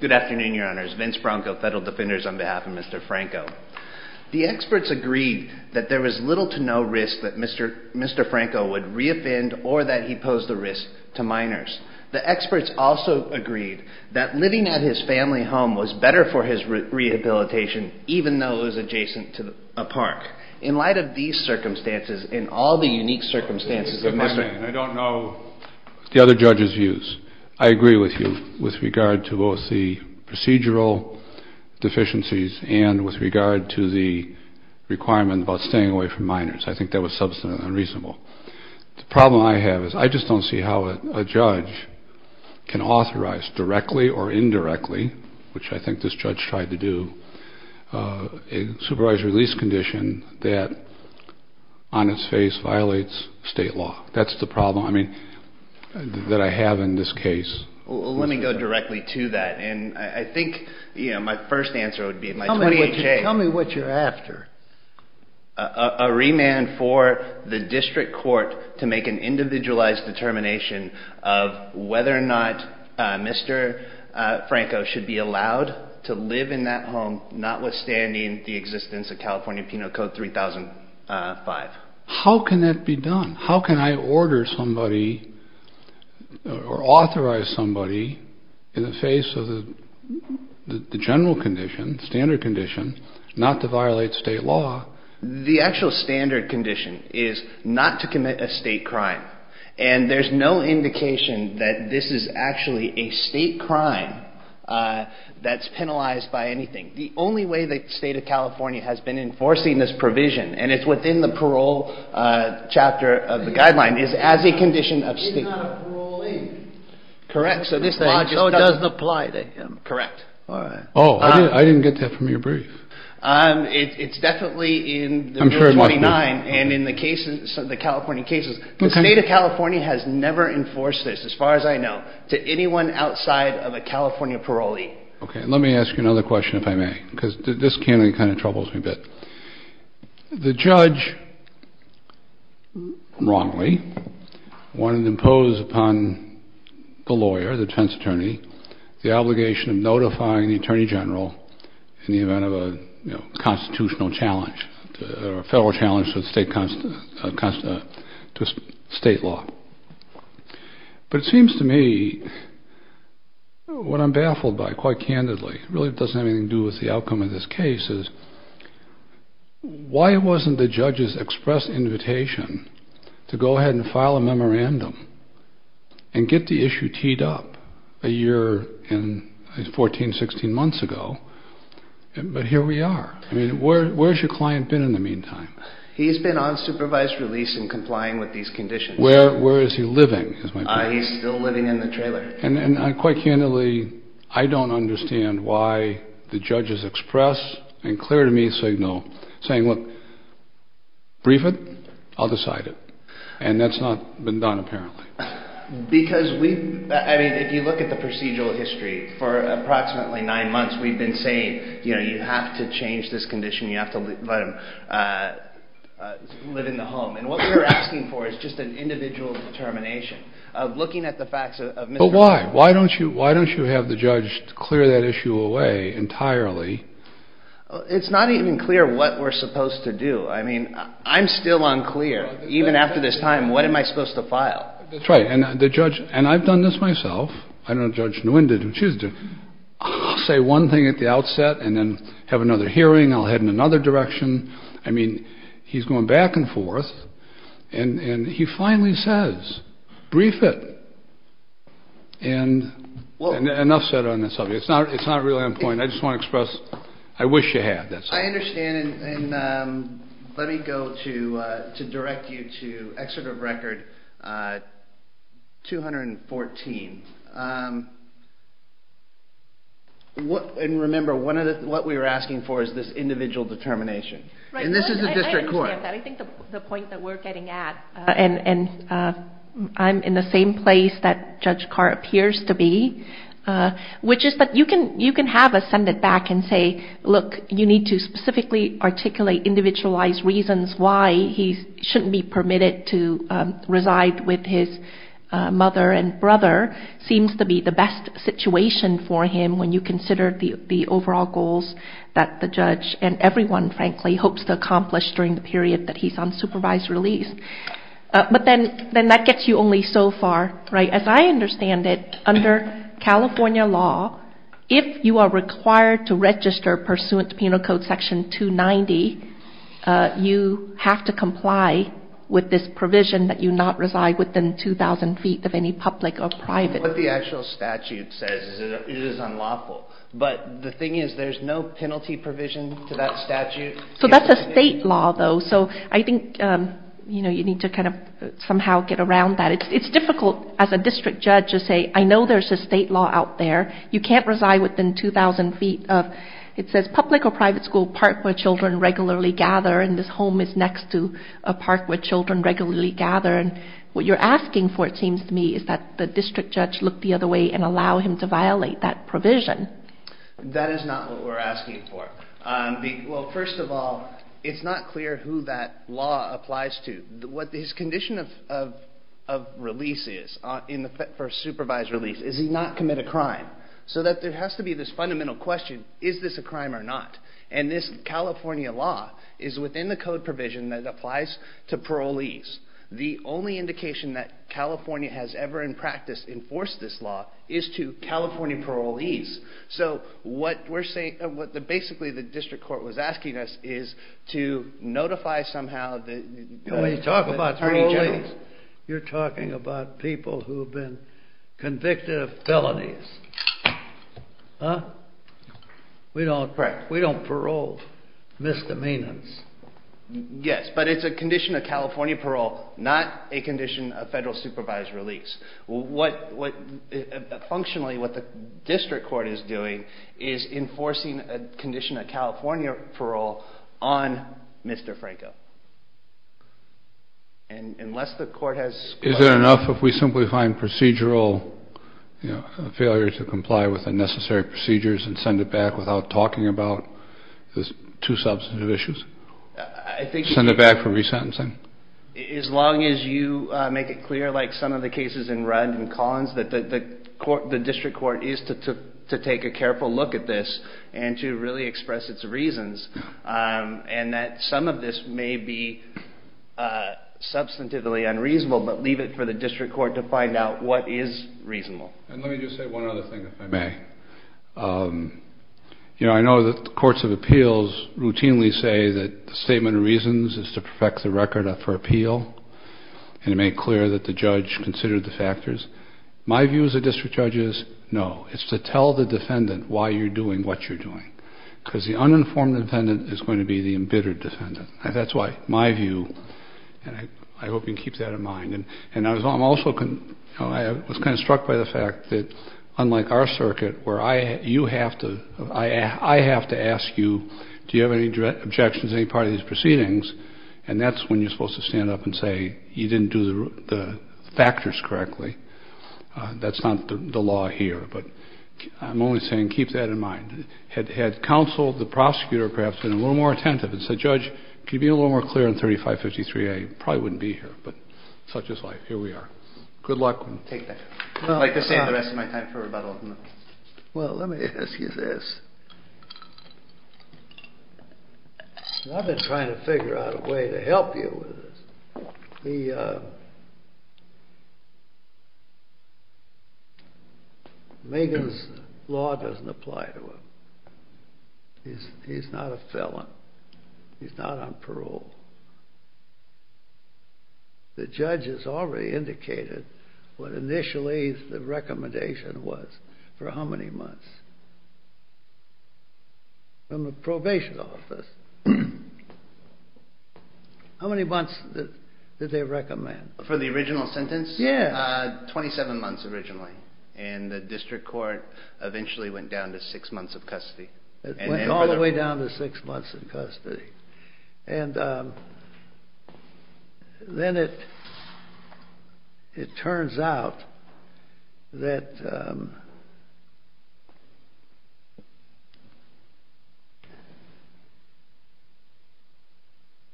Good afternoon, your honors. Vince Bronco, Federal Defenders, on behalf of Mr. Franco. The experts agreed that there was little to no risk that Mr. Franco would re-offend or that he posed a risk to minors. The experts also agreed that living at his family home was better for his rehabilitation, even though it was adjacent to a park. In light of these circumstances, and all the unique circumstances of Mr. Franco... I don't know the other judges' views. I agree with you with regard to both the procedural deficiencies and with regard to the requirement about staying away from minors. I think that was substantive and reasonable. The problem I have is I just don't see how a judge can authorize directly or indirectly, which I think this judge tried to do, a supervised release condition that on its face violates state law. That's the problem that I have in this case. Let me go directly to that. I think my first answer would be... Tell me what you're after. A remand for the district court to make an individualized determination of whether or not Mr. Franco should be allowed to live in that home, notwithstanding the existence of California Penal Code 3005. How can that be done? How can I order somebody or authorize somebody in the face of the general condition, standard condition, not to violate state law? The actual standard condition is not to commit a state crime. And there's no indication that this is actually a state crime that's penalized by anything. The only way the state of California has been enforcing this provision, and it's within the parole chapter of the guideline, is as a condition of state law. It's not a parolee. Correct. So it doesn't apply to him. Correct. All right. Oh, I didn't get that from your brief. It's definitely in the Rule 29 and in the California cases. The state of California has never enforced this, as far as I know, to anyone outside of a California parolee. Okay. Let me ask you another question, if I may, because this candidate kind of troubles me a bit. The judge, wrongly, wanted to impose upon the lawyer, the defense attorney, the obligation of notifying the attorney general in the event of a constitutional challenge or a federal challenge to state law. But it seems to me, what I'm baffled by, quite candidly, really doesn't have anything to do with the outcome of this case, is why wasn't the judge's express invitation to go ahead and file a memorandum and get the issue teed up a year and 14, 16 months ago? But here we are. I mean, where's your client been in the meantime? He's been on supervised release and complying with these conditions. Where is he living, is my question. He's still living in the trailer. And quite candidly, I don't understand why the judge's express and clear to me signal saying, look, brief it, I'll decide it. And that's not been done, apparently. Because we, I mean, if you look at the procedural history, for approximately nine months, we've been saying, you know, you have to change this condition, you have to let him live in the home. And what we're asking for is just an individual determination of looking at the facts of Mr. But why? Why don't you have the judge clear that issue away entirely? It's not even clear what we're supposed to do. I mean, I'm still unclear. Even after this time, what am I supposed to file? That's right. And the judge, and I've done this myself. I don't know if Judge Nguyen did what she was doing. I'll say one thing at the outset and then have another hearing. I'll head in another direction. I mean, he's going back and forth. And he finally says, brief it. And enough said on this subject. It's not really on point. I just want to express I wish you had. I understand. And let me go to direct you to Excerpt of Record 214. And remember, what we were asking for is this individual determination. And this is the district court. I understand that. I think the point that we're getting at, and I'm in the same place that Judge Carr appears to be, which is that you can have us send it back and say, look, you need to specifically articulate individualized reasons why he shouldn't be permitted to reside with his mother and brother seems to be the best situation for him when you consider the overall goals that the judge and everyone, frankly, hopes to accomplish during the period that he's on supervised release. But then that gets you only so far. As I understand it, under California law, if you are required to register pursuant to Penal Code Section 290, you have to comply with this provision that you not reside within 2,000 feet of any public or private. What the actual statute says is it is unlawful. But the thing is, there's no penalty provision to that statute. So that's a state law, though. So I think, you know, you need to kind of somehow get around that. It's difficult as a district judge to say, I know there's a state law out there. You can't reside within 2,000 feet. It says public or private school park where children regularly gather, and this home is next to a park where children regularly gather. What you're asking for, it seems to me, is that the district judge look the other way and allow him to violate that provision. That is not what we're asking for. Well, first of all, it's not clear who that law applies to. What his condition of release is for supervised release is he not commit a crime. So that there has to be this fundamental question, is this a crime or not? And this California law is within the code provision that applies to parolees. The only indication that California has ever in practice enforced this law is to California parolees. So what we're saying, what basically the district court was asking us is to notify somehow the attorney general. You're talking about people who have been convicted of felonies. We don't parole misdemeanors. Yes, but it's a condition of California parole, not a condition of federal supervised release. Functionally, what the district court is doing is enforcing a condition of California parole on Mr. Franco. Is it enough if we simply find procedural failure to comply with the necessary procedures and send it back without talking about the two substantive issues? Send it back for resentencing? As long as you make it clear, like some of the cases in Rudd and Collins, that the district court is to take a careful look at this and to really express its reasons. And that some of this may be substantively unreasonable, but leave it for the district court to find out what is reasonable. And let me just say one other thing, if I may. You know, I know that the courts of appeals routinely say that the statement of reasons is to perfect the record for appeal, and to make clear that the judge considered the factors. My view as a district judge is no. It's to tell the defendant why you're doing what you're doing. Because the uninformed defendant is going to be the embittered defendant. That's my view, and I hope you can keep that in mind. And I was kind of struck by the fact that, unlike our circuit, where I have to ask you, do you have any objections to any part of these proceedings, and that's when you're supposed to stand up and say you didn't do the factors correctly. That's not the law here. But I'm only saying keep that in mind. Had counsel, the prosecutor perhaps, been a little more attentive and said, Judge, could you be a little more clear on 3553A? I probably wouldn't be here, but such is life. Here we are. Good luck. I'd like to stay on the rest of my time for rebuttal. Well, let me ask you this. I've been trying to figure out a way to help you with this. Megan's law doesn't apply to him. He's not a felon. He's not on parole. The judge has already indicated what initially the recommendation was for how many months? From the probation office. How many months did they recommend? For the original sentence? Yeah. 27 months originally. And the district court eventually went down to six months of custody. And then it turns out that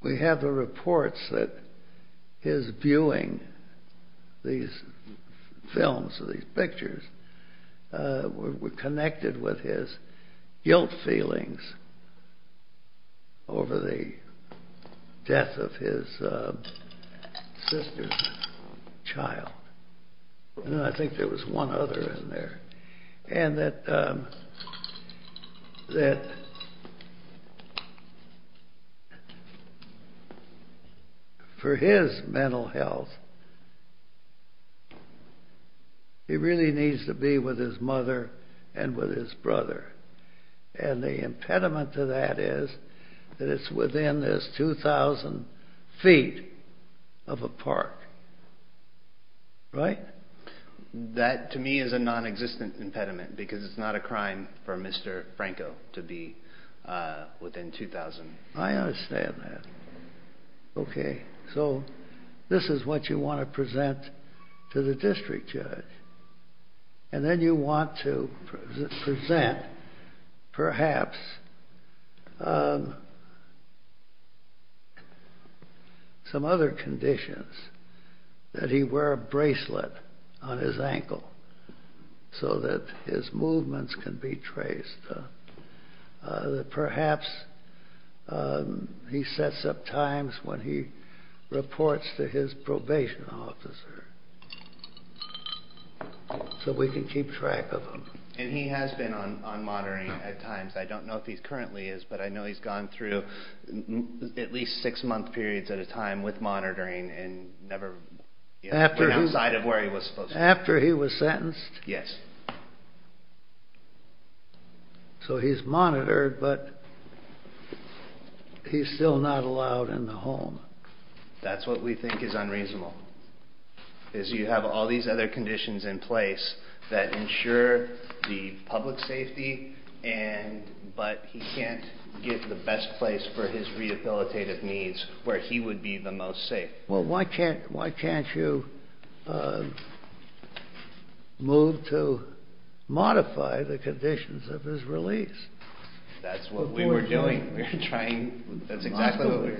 we have the reports that his viewing these films, these pictures, were connected with his guilt feelings over the death of his sister's child. And I think there was one other in there. And that for his mental health, he really needs to be with his mother and with his brother. And the impediment to that is that it's within this 2,000 feet of a park. Right? That, to me, is a non-existent impediment because it's not a crime for Mr. Franco to be within 2,000. I understand that. Okay. So this is what you want to present to the district judge. And then you want to present, perhaps, some other conditions. That he wear a bracelet on his ankle so that his movements can be traced. That perhaps he sets up times when he reports to his probation officer so we can keep track of him. And he has been on monitoring at times. I don't know if he currently is, but I know he's gone through at least six-month periods at a time with monitoring and never went outside of where he was supposed to. After he was sentenced? Yes. So he's monitored, but he's still not allowed in the home. That's what we think is unreasonable, is you have all these other conditions in place that ensure the public safety, but he can't get the best place for his rehabilitative needs where he would be the most safe. Well, why can't you move to modify the conditions of his release? That's what we were doing. We were trying. That's exactly what we were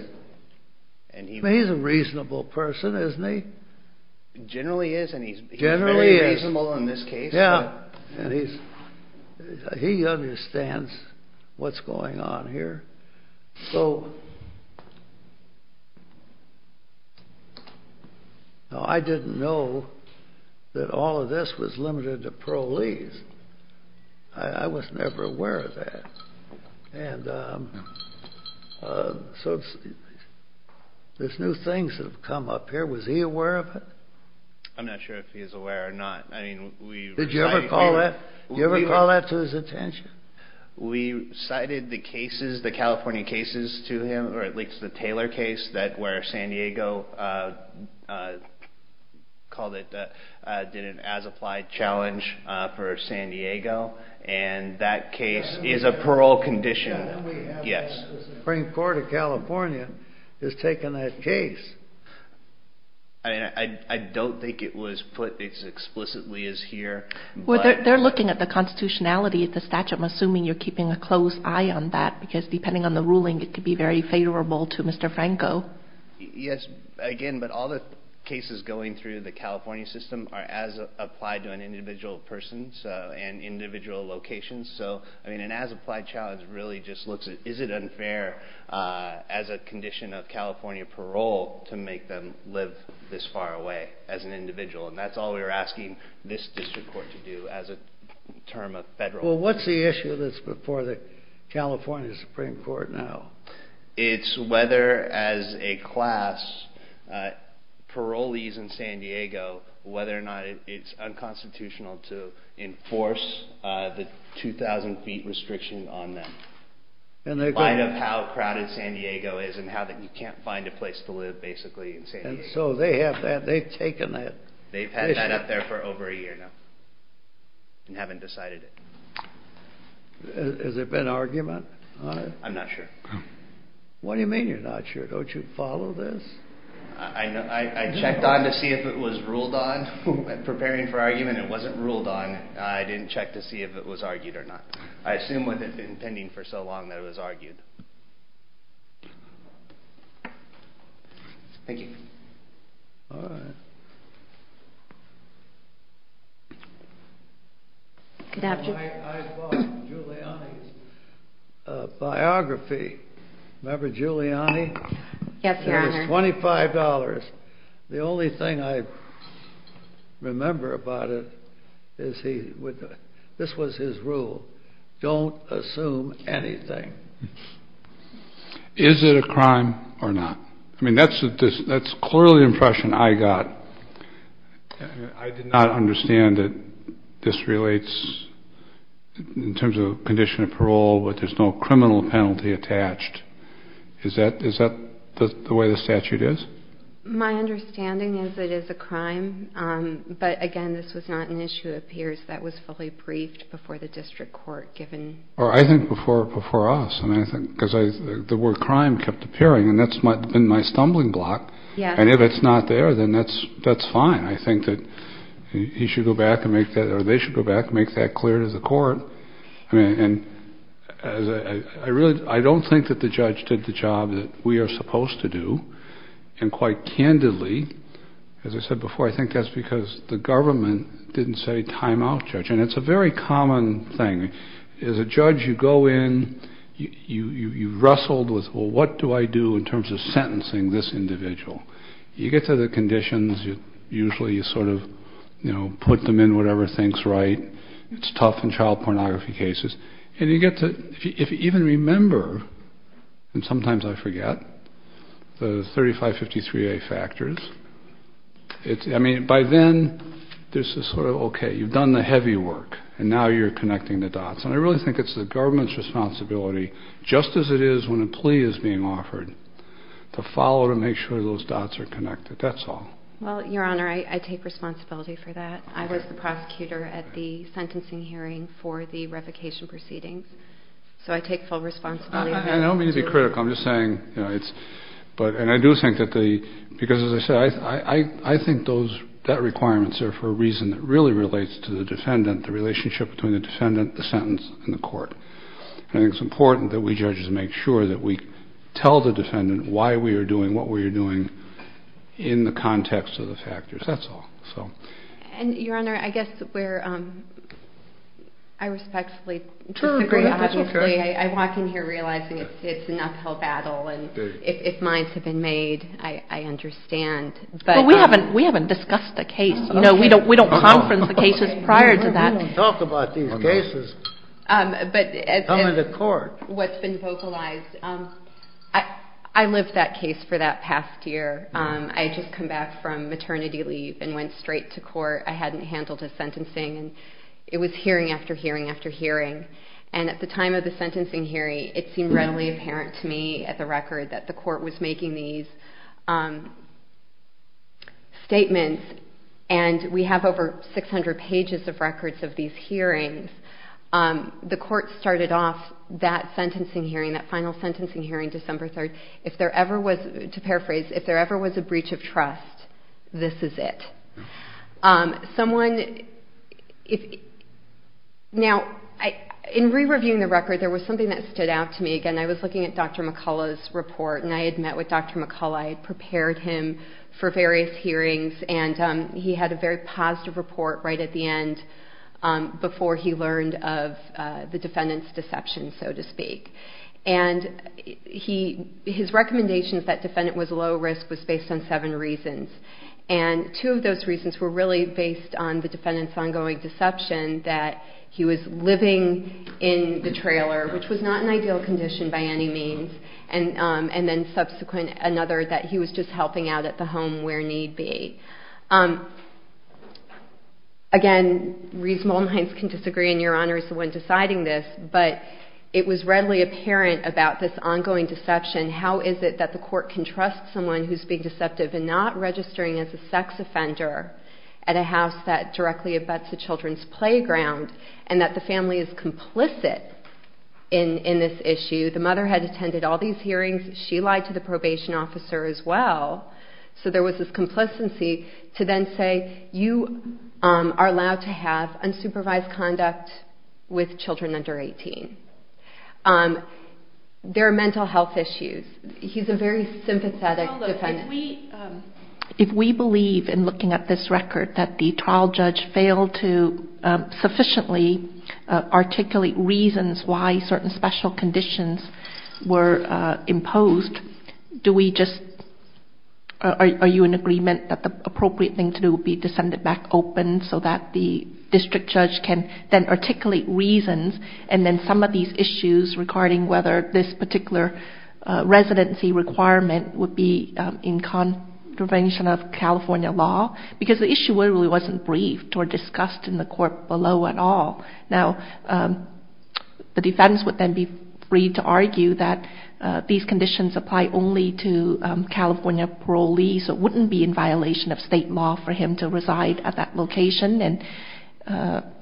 doing. He's a reasonable person, isn't he? He generally is, and he's very reasonable in this case. Yeah, and he understands what's going on here. So I didn't know that all of this was limited to parolees. I was never aware of that. And so there's new things that have come up here. Was he aware of it? I'm not sure if he's aware or not. Did you ever call that to his attention? We cited the cases, the California cases to him, or at least the Taylor case where San Diego called it, did an as-applied challenge for San Diego, and that case is a parole condition. Yes. The Supreme Court of California has taken that case. I don't think it was put as explicitly as here. Well, they're looking at the constitutionality of the statute. I'm assuming you're keeping a close eye on that because, depending on the ruling, it could be very favorable to Mr. Franco. Yes, again, but all the cases going through the California system are as applied to an individual person and individual locations. So, I mean, an as-applied challenge really just looks at is it unfair as a condition of California parole to make them live this far away as an individual, and that's all we were asking this district court to do as a term of federal law. Well, what's the issue that's before the California Supreme Court now? It's whether, as a class, parolees in San Diego, whether or not it's unconstitutional to enforce the 2,000-feet restriction on them. And they're going to find out how crowded San Diego is and how you can't find a place to live, basically, in San Diego. And so they have that. They've taken that. They've had that up there for over a year now and haven't decided it. Has there been argument on it? I'm not sure. What do you mean you're not sure? Don't you follow this? I checked on to see if it was ruled on. When preparing for argument, it wasn't ruled on. I didn't check to see if it was argued or not. I assume it had been pending for so long that it was argued. Thank you. All right. I bought Giuliani's biography. Remember Giuliani? Yes, Your Honor. It was $25. The only thing I remember about it is this was his rule. Don't assume anything. Is it a crime or not? I mean, that's clearly the impression I got. I did not understand that this relates in terms of a condition of parole, but there's no criminal penalty attached. Is that the way the statute is? My understanding is it is a crime. But, again, this was not an issue, it appears, that was fully briefed before the district court, given. I think before us, because the word crime kept appearing, and that's been my stumbling block. And if it's not there, then that's fine. They should go back and make that clear to the court. I don't think that the judge did the job that we are supposed to do. And quite candidly, as I said before, I think that's because the government didn't say time out, Judge. And it's a very common thing. As a judge, you go in, you've wrestled with, well, what do I do in terms of sentencing this individual? You get to the conditions, usually you sort of, you know, put them in whatever thinks right. It's tough in child pornography cases. And you get to, if you even remember, and sometimes I forget, the 3553A factors. I mean, by then, this is sort of okay. You've done the heavy work, and now you're connecting the dots. And I really think it's the government's responsibility, just as it is when a plea is being offered, to follow to make sure those dots are connected. That's all. Well, Your Honor, I take responsibility for that. I was the prosecutor at the sentencing hearing for the revocation proceedings. So I take full responsibility. I don't mean to be critical. I'm just saying, you know, it's, and I do think that the, because as I said, I think that requirements are for a reason that really relates to the defendant, the relationship between the defendant, the sentence, and the court. And it's important that we judges make sure that we tell the defendant why we are doing what we are doing in the context of the factors. That's all. And, Your Honor, I guess where I respectfully disagree, honestly, I walk in here realizing it's an uphill battle. And if minds have been made, I understand. But we haven't discussed the case. You know, we don't conference the cases prior to that. We didn't talk about these cases coming to court. But what's been vocalized, I lived that case for that past year. I had just come back from maternity leave and went straight to court. I hadn't handled his sentencing. And it was hearing after hearing after hearing. And at the time of the sentencing hearing, it seemed readily apparent to me at the record that the court was making these statements. And we have over 600 pages of records of these hearings. The court started off that sentencing hearing, that final sentencing hearing, December 3rd, if there ever was, to paraphrase, if there ever was a breach of trust, this is it. Now, in re-reviewing the record, there was something that stood out to me. Again, I was looking at Dr. McCullough's report. And I had met with Dr. McCullough. I had prepared him for various hearings. And he had a very positive report right at the end before he learned of the defendant's deception, so to speak. And his recommendations that defendant was low risk was based on seven reasons. And two of those reasons were really based on the defendant's ongoing deception that he was living in the trailer, which was not an ideal condition by any means, and then subsequent another that he was just helping out at the home where need be. Again, reasonable minds can disagree, and Your Honor is the one deciding this. But it was readily apparent about this ongoing deception, how is it that the court can trust someone who's being deceptive and not registering as a sex offender at a house that directly abuts a children's playground, and that the family is complicit in this issue. The mother had attended all these hearings. She lied to the probation officer as well. So there was this complacency to then say, you are allowed to have unsupervised conduct with children under 18. There are mental health issues. He's a very sympathetic defendant. If we believe in looking at this record that the trial judge failed to sufficiently articulate reasons why certain special conditions were imposed, are you in agreement that the appropriate thing to do would be to send it back open so that the district judge can then articulate reasons and then some of these issues regarding whether this particular residency requirement would be in contravention of California law? Because the issue really wasn't briefed or discussed in the court below at all. Now, the defense would then be free to argue that these conditions apply only to California parolees or wouldn't be in violation of state law for him to reside at that location, and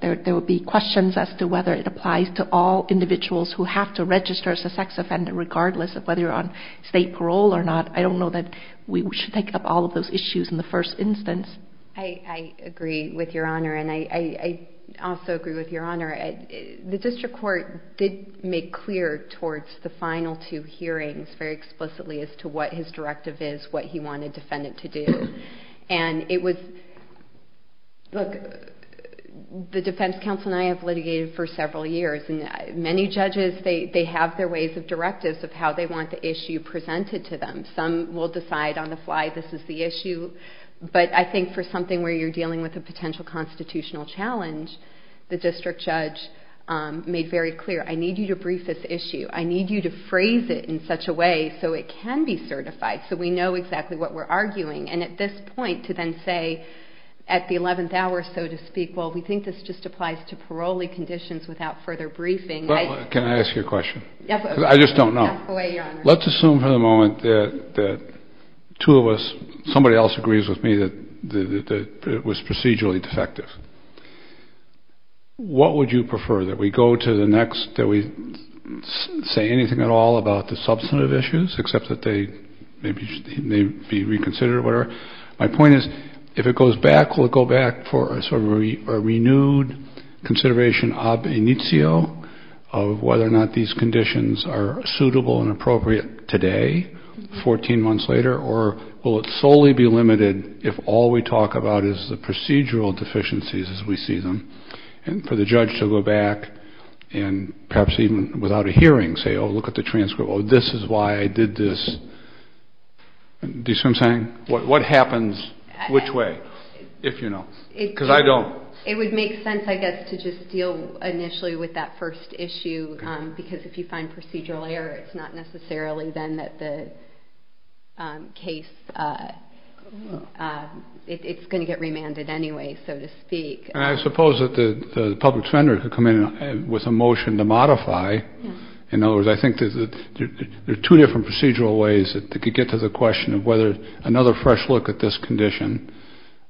there would be questions as to whether it applies to all individuals who have to register as a sex offender regardless of whether you're on state parole or not. I don't know that we should take up all of those issues in the first instance. I agree with Your Honor, and I also agree with Your Honor. The district court did make clear towards the final two hearings very explicitly as to what his directive is, what he wanted the defendant to do. And it was, look, the defense counsel and I have litigated for several years, and many judges, they have their ways of directives of how they want the issue presented to them. Some will decide on the fly this is the issue, but I think for something where you're dealing with a potential constitutional challenge, the district judge made very clear, I need you to brief this issue. I need you to phrase it in such a way so it can be certified, so we know exactly what we're arguing. And at this point to then say at the 11th hour, so to speak, well, we think this just applies to parolee conditions without further briefing. Can I ask you a question? I just don't know. Let's assume for the moment that two of us, somebody else agrees with me that it was procedurally defective. What would you prefer, that we go to the next, that we say anything at all about the substantive issues, except that they may be reconsidered? My point is, if it goes back, will it go back for a renewed consideration ob initio of whether or not these conditions are suitable and appropriate today, 14 months later, or will it solely be limited if all we talk about is the procedural deficiencies as we see them, and for the judge to go back and perhaps even without a hearing say, oh, look at the transcript, oh, this is why I did this. Do you see what I'm saying? What happens which way, if you know, because I don't. It would make sense, I guess, to just deal initially with that first issue, because if you find procedural error, it's not necessarily then that the case, it's going to get remanded anyway, so to speak. And I suppose that the public defender could come in with a motion to modify. In other words, I think there are two different procedural ways that could get to the question of whether another fresh look at this condition,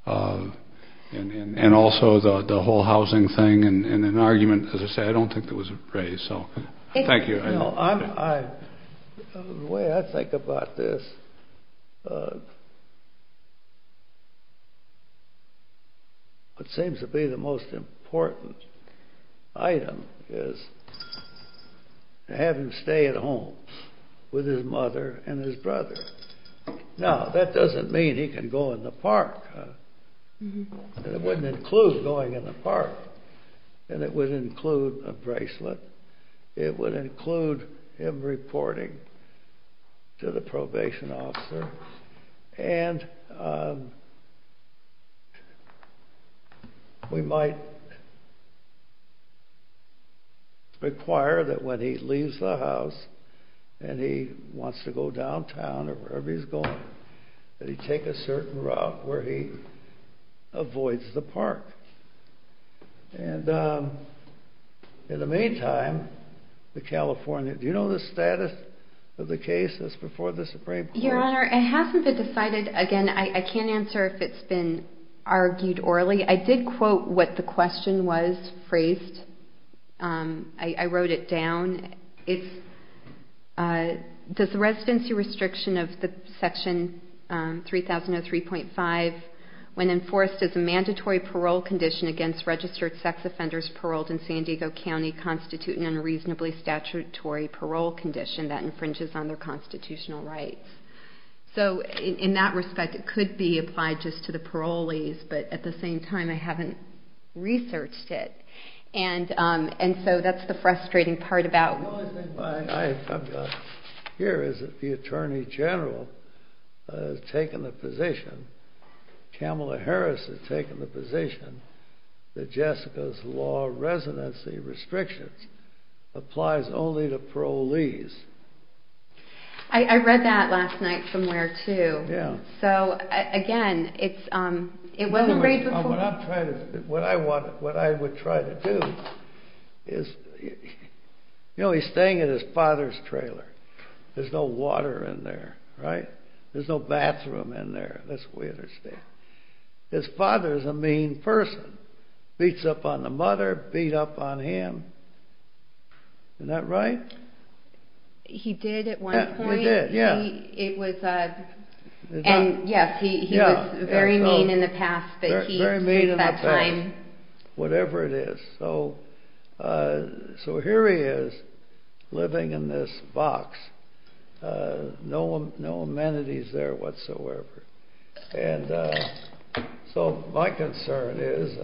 and also the whole housing thing, and an argument, as I say, I don't think that was raised, so thank you. The way I think about this, what seems to be the most important item is to have him stay at home with his mother and his brother. Now, that doesn't mean he can go in the park, and it wouldn't include going in the park, and it wouldn't include a bracelet. It would include him reporting to the probation officer, and we might require that when he leaves the house, and he wants to go downtown or wherever he's going, that he take a certain route where he avoids the park. And in the meantime, the California, do you know the status of the case that's before the Supreme Court? Your Honor, it hasn't been decided. Again, I can't answer if it's been argued orally. I did quote what the question was phrased. I wrote it down. Does the residency restriction of Section 3003.5, when enforced as a mandatory parole condition against registered sex offenders paroled in San Diego County, constitute an unreasonably statutory parole condition that infringes on their constitutional rights? So in that respect, it could be applied just to the parolees, but at the same time, I haven't researched it. And so that's the frustrating part about it. Here is that the Attorney General has taken the position, Kamala Harris has taken the position, that Jessica's law residency restrictions applies only to parolees. I read that last night somewhere, too. Yeah. So again, it wasn't a great report. What I would try to do is, you know, he's staying in his father's trailer. There's no water in there, right? There's no bathroom in there. That's the way it is there. His father is a mean person. Beats up on the mother, beat up on him. Isn't that right? He did at one point. He did, yeah. And, yes, he was very mean in the past. Very mean in the past, whatever it is. So here he is living in this box. No amenities there whatsoever. And so my concern is,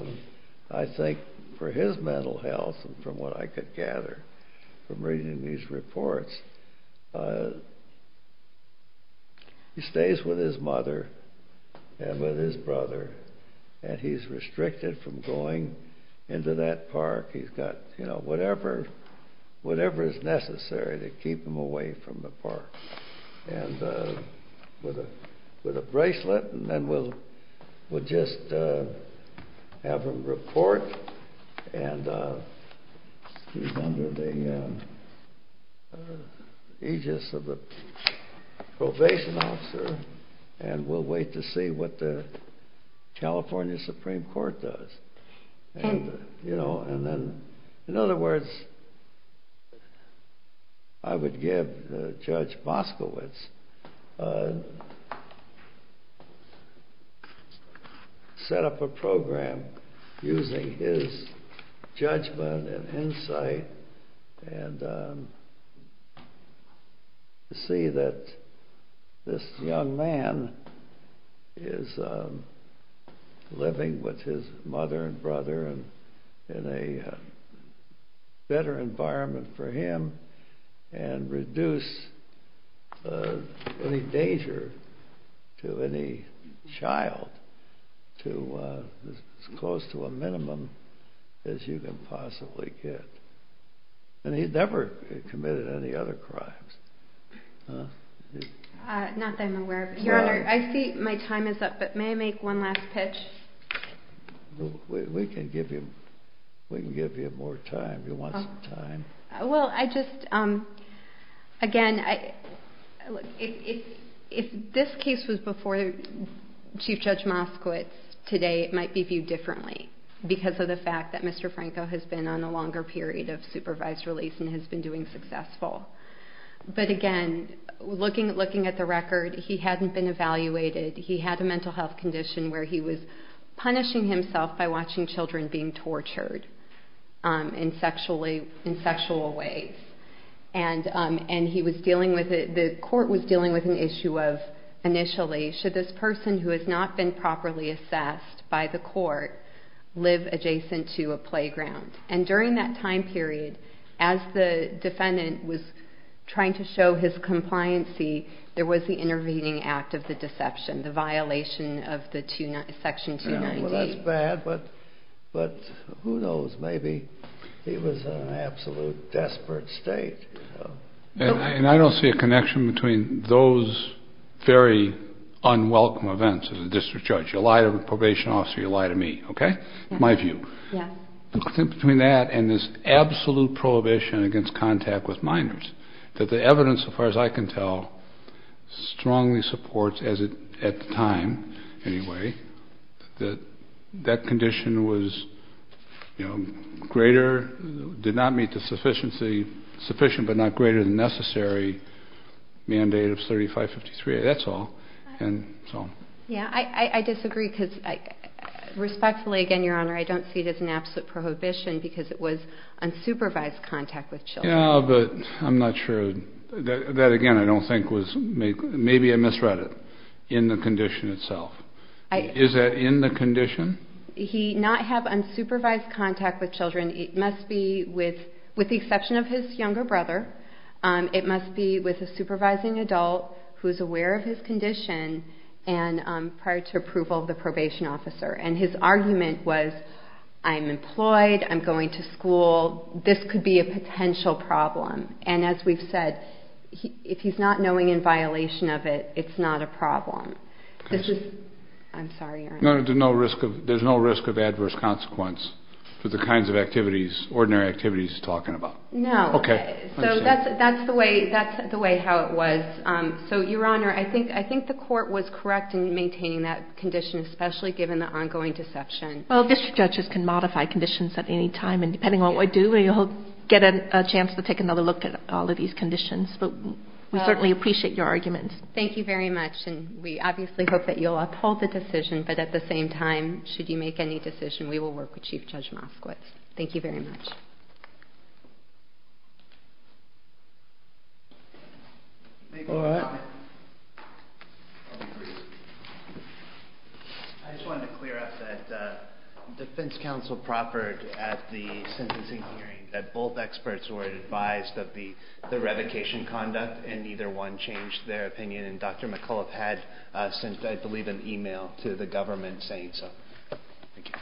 I think, for his mental health, from what I could gather from reading these reports, he stays with his mother and with his brother, and he's restricted from going into that park. He's got, you know, whatever is necessary to keep him away from the park. And with a bracelet, and then we'll just have him report, and he's under the aegis of the probation officer, and we'll wait to see what the California Supreme Court does. And then, in other words, I would give Judge Boskowitz, set up a program using his judgment and insight, and see that this young man is living with his mother and brother in a better environment for him, and reduce any danger to any child as close to a minimum as you can possibly get. And he's never committed any other crimes. Not that I'm aware of. Your Honor, I see my time is up, but may I make one last pitch? We can give you more time if you want some time. Well, I just, again, if this case was before Chief Judge Moskowitz, today it might be viewed differently, because of the fact that Mr. Franco has been on a longer period of supervised release and has been doing successful. But again, looking at the record, he hadn't been evaluated. He had a mental health condition where he was punishing himself by watching children being tortured in sexual ways. And the court was dealing with an issue of, initially, should this person who has not been properly assessed by the court live adjacent to a playground? And during that time period, as the defendant was trying to show his compliancy, there was the intervening act of the deception, the violation of Section 290. Well, that's bad, but who knows? Maybe he was in an absolute desperate state. And I don't see a connection between those very unwelcome events as a district judge. You lie to a probation officer, you lie to me, okay? My view. Yeah. Between that and this absolute prohibition against contact with minors, that the evidence, as far as I can tell, strongly supports, at the time anyway, that that condition was greater, did not meet the sufficient but not greater than necessary mandate of 3553A. That's all. Yeah, I disagree, because respectfully, again, Your Honor, I don't see it as an absolute prohibition because it was unsupervised contact with children. Yeah, but I'm not sure. That, again, I don't think was made. Maybe I misread it in the condition itself. Is that in the condition? He not have unsupervised contact with children. It must be with the exception of his younger brother. It must be with a supervising adult who is aware of his condition prior to approval of the probation officer. And his argument was, I'm employed, I'm going to school, this could be a potential problem. And as we've said, if he's not knowing in violation of it, it's not a problem. I'm sorry, Your Honor. There's no risk of adverse consequence for the kinds of activities, ordinary activities he's talking about. No. Okay. So that's the way how it was. So, Your Honor, I think the court was correct in maintaining that condition, especially given the ongoing deception. Well, district judges can modify conditions at any time, and depending on what we do, we'll get a chance to take another look at all of these conditions. But we certainly appreciate your argument. Thank you very much. And we obviously hope that you'll uphold the decision, but at the same time, should you make any decision, we will work with Chief Judge Moskowitz. Thank you very much. I just wanted to clear up that defense counsel proffered at the sentencing hearing that both experts were advised of the revocation conduct and neither one changed their opinion. And Dr. McCullough had sent, I believe, an email to the government saying so. Thank you.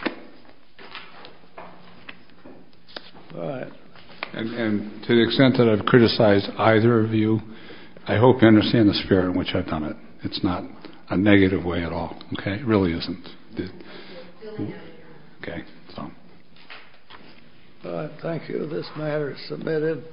And to the extent that I've criticized either of you, I hope you understand the spirit in which I've done it. It's not a negative way at all. Okay? It really isn't. Okay. Thank you. This matter is submitted.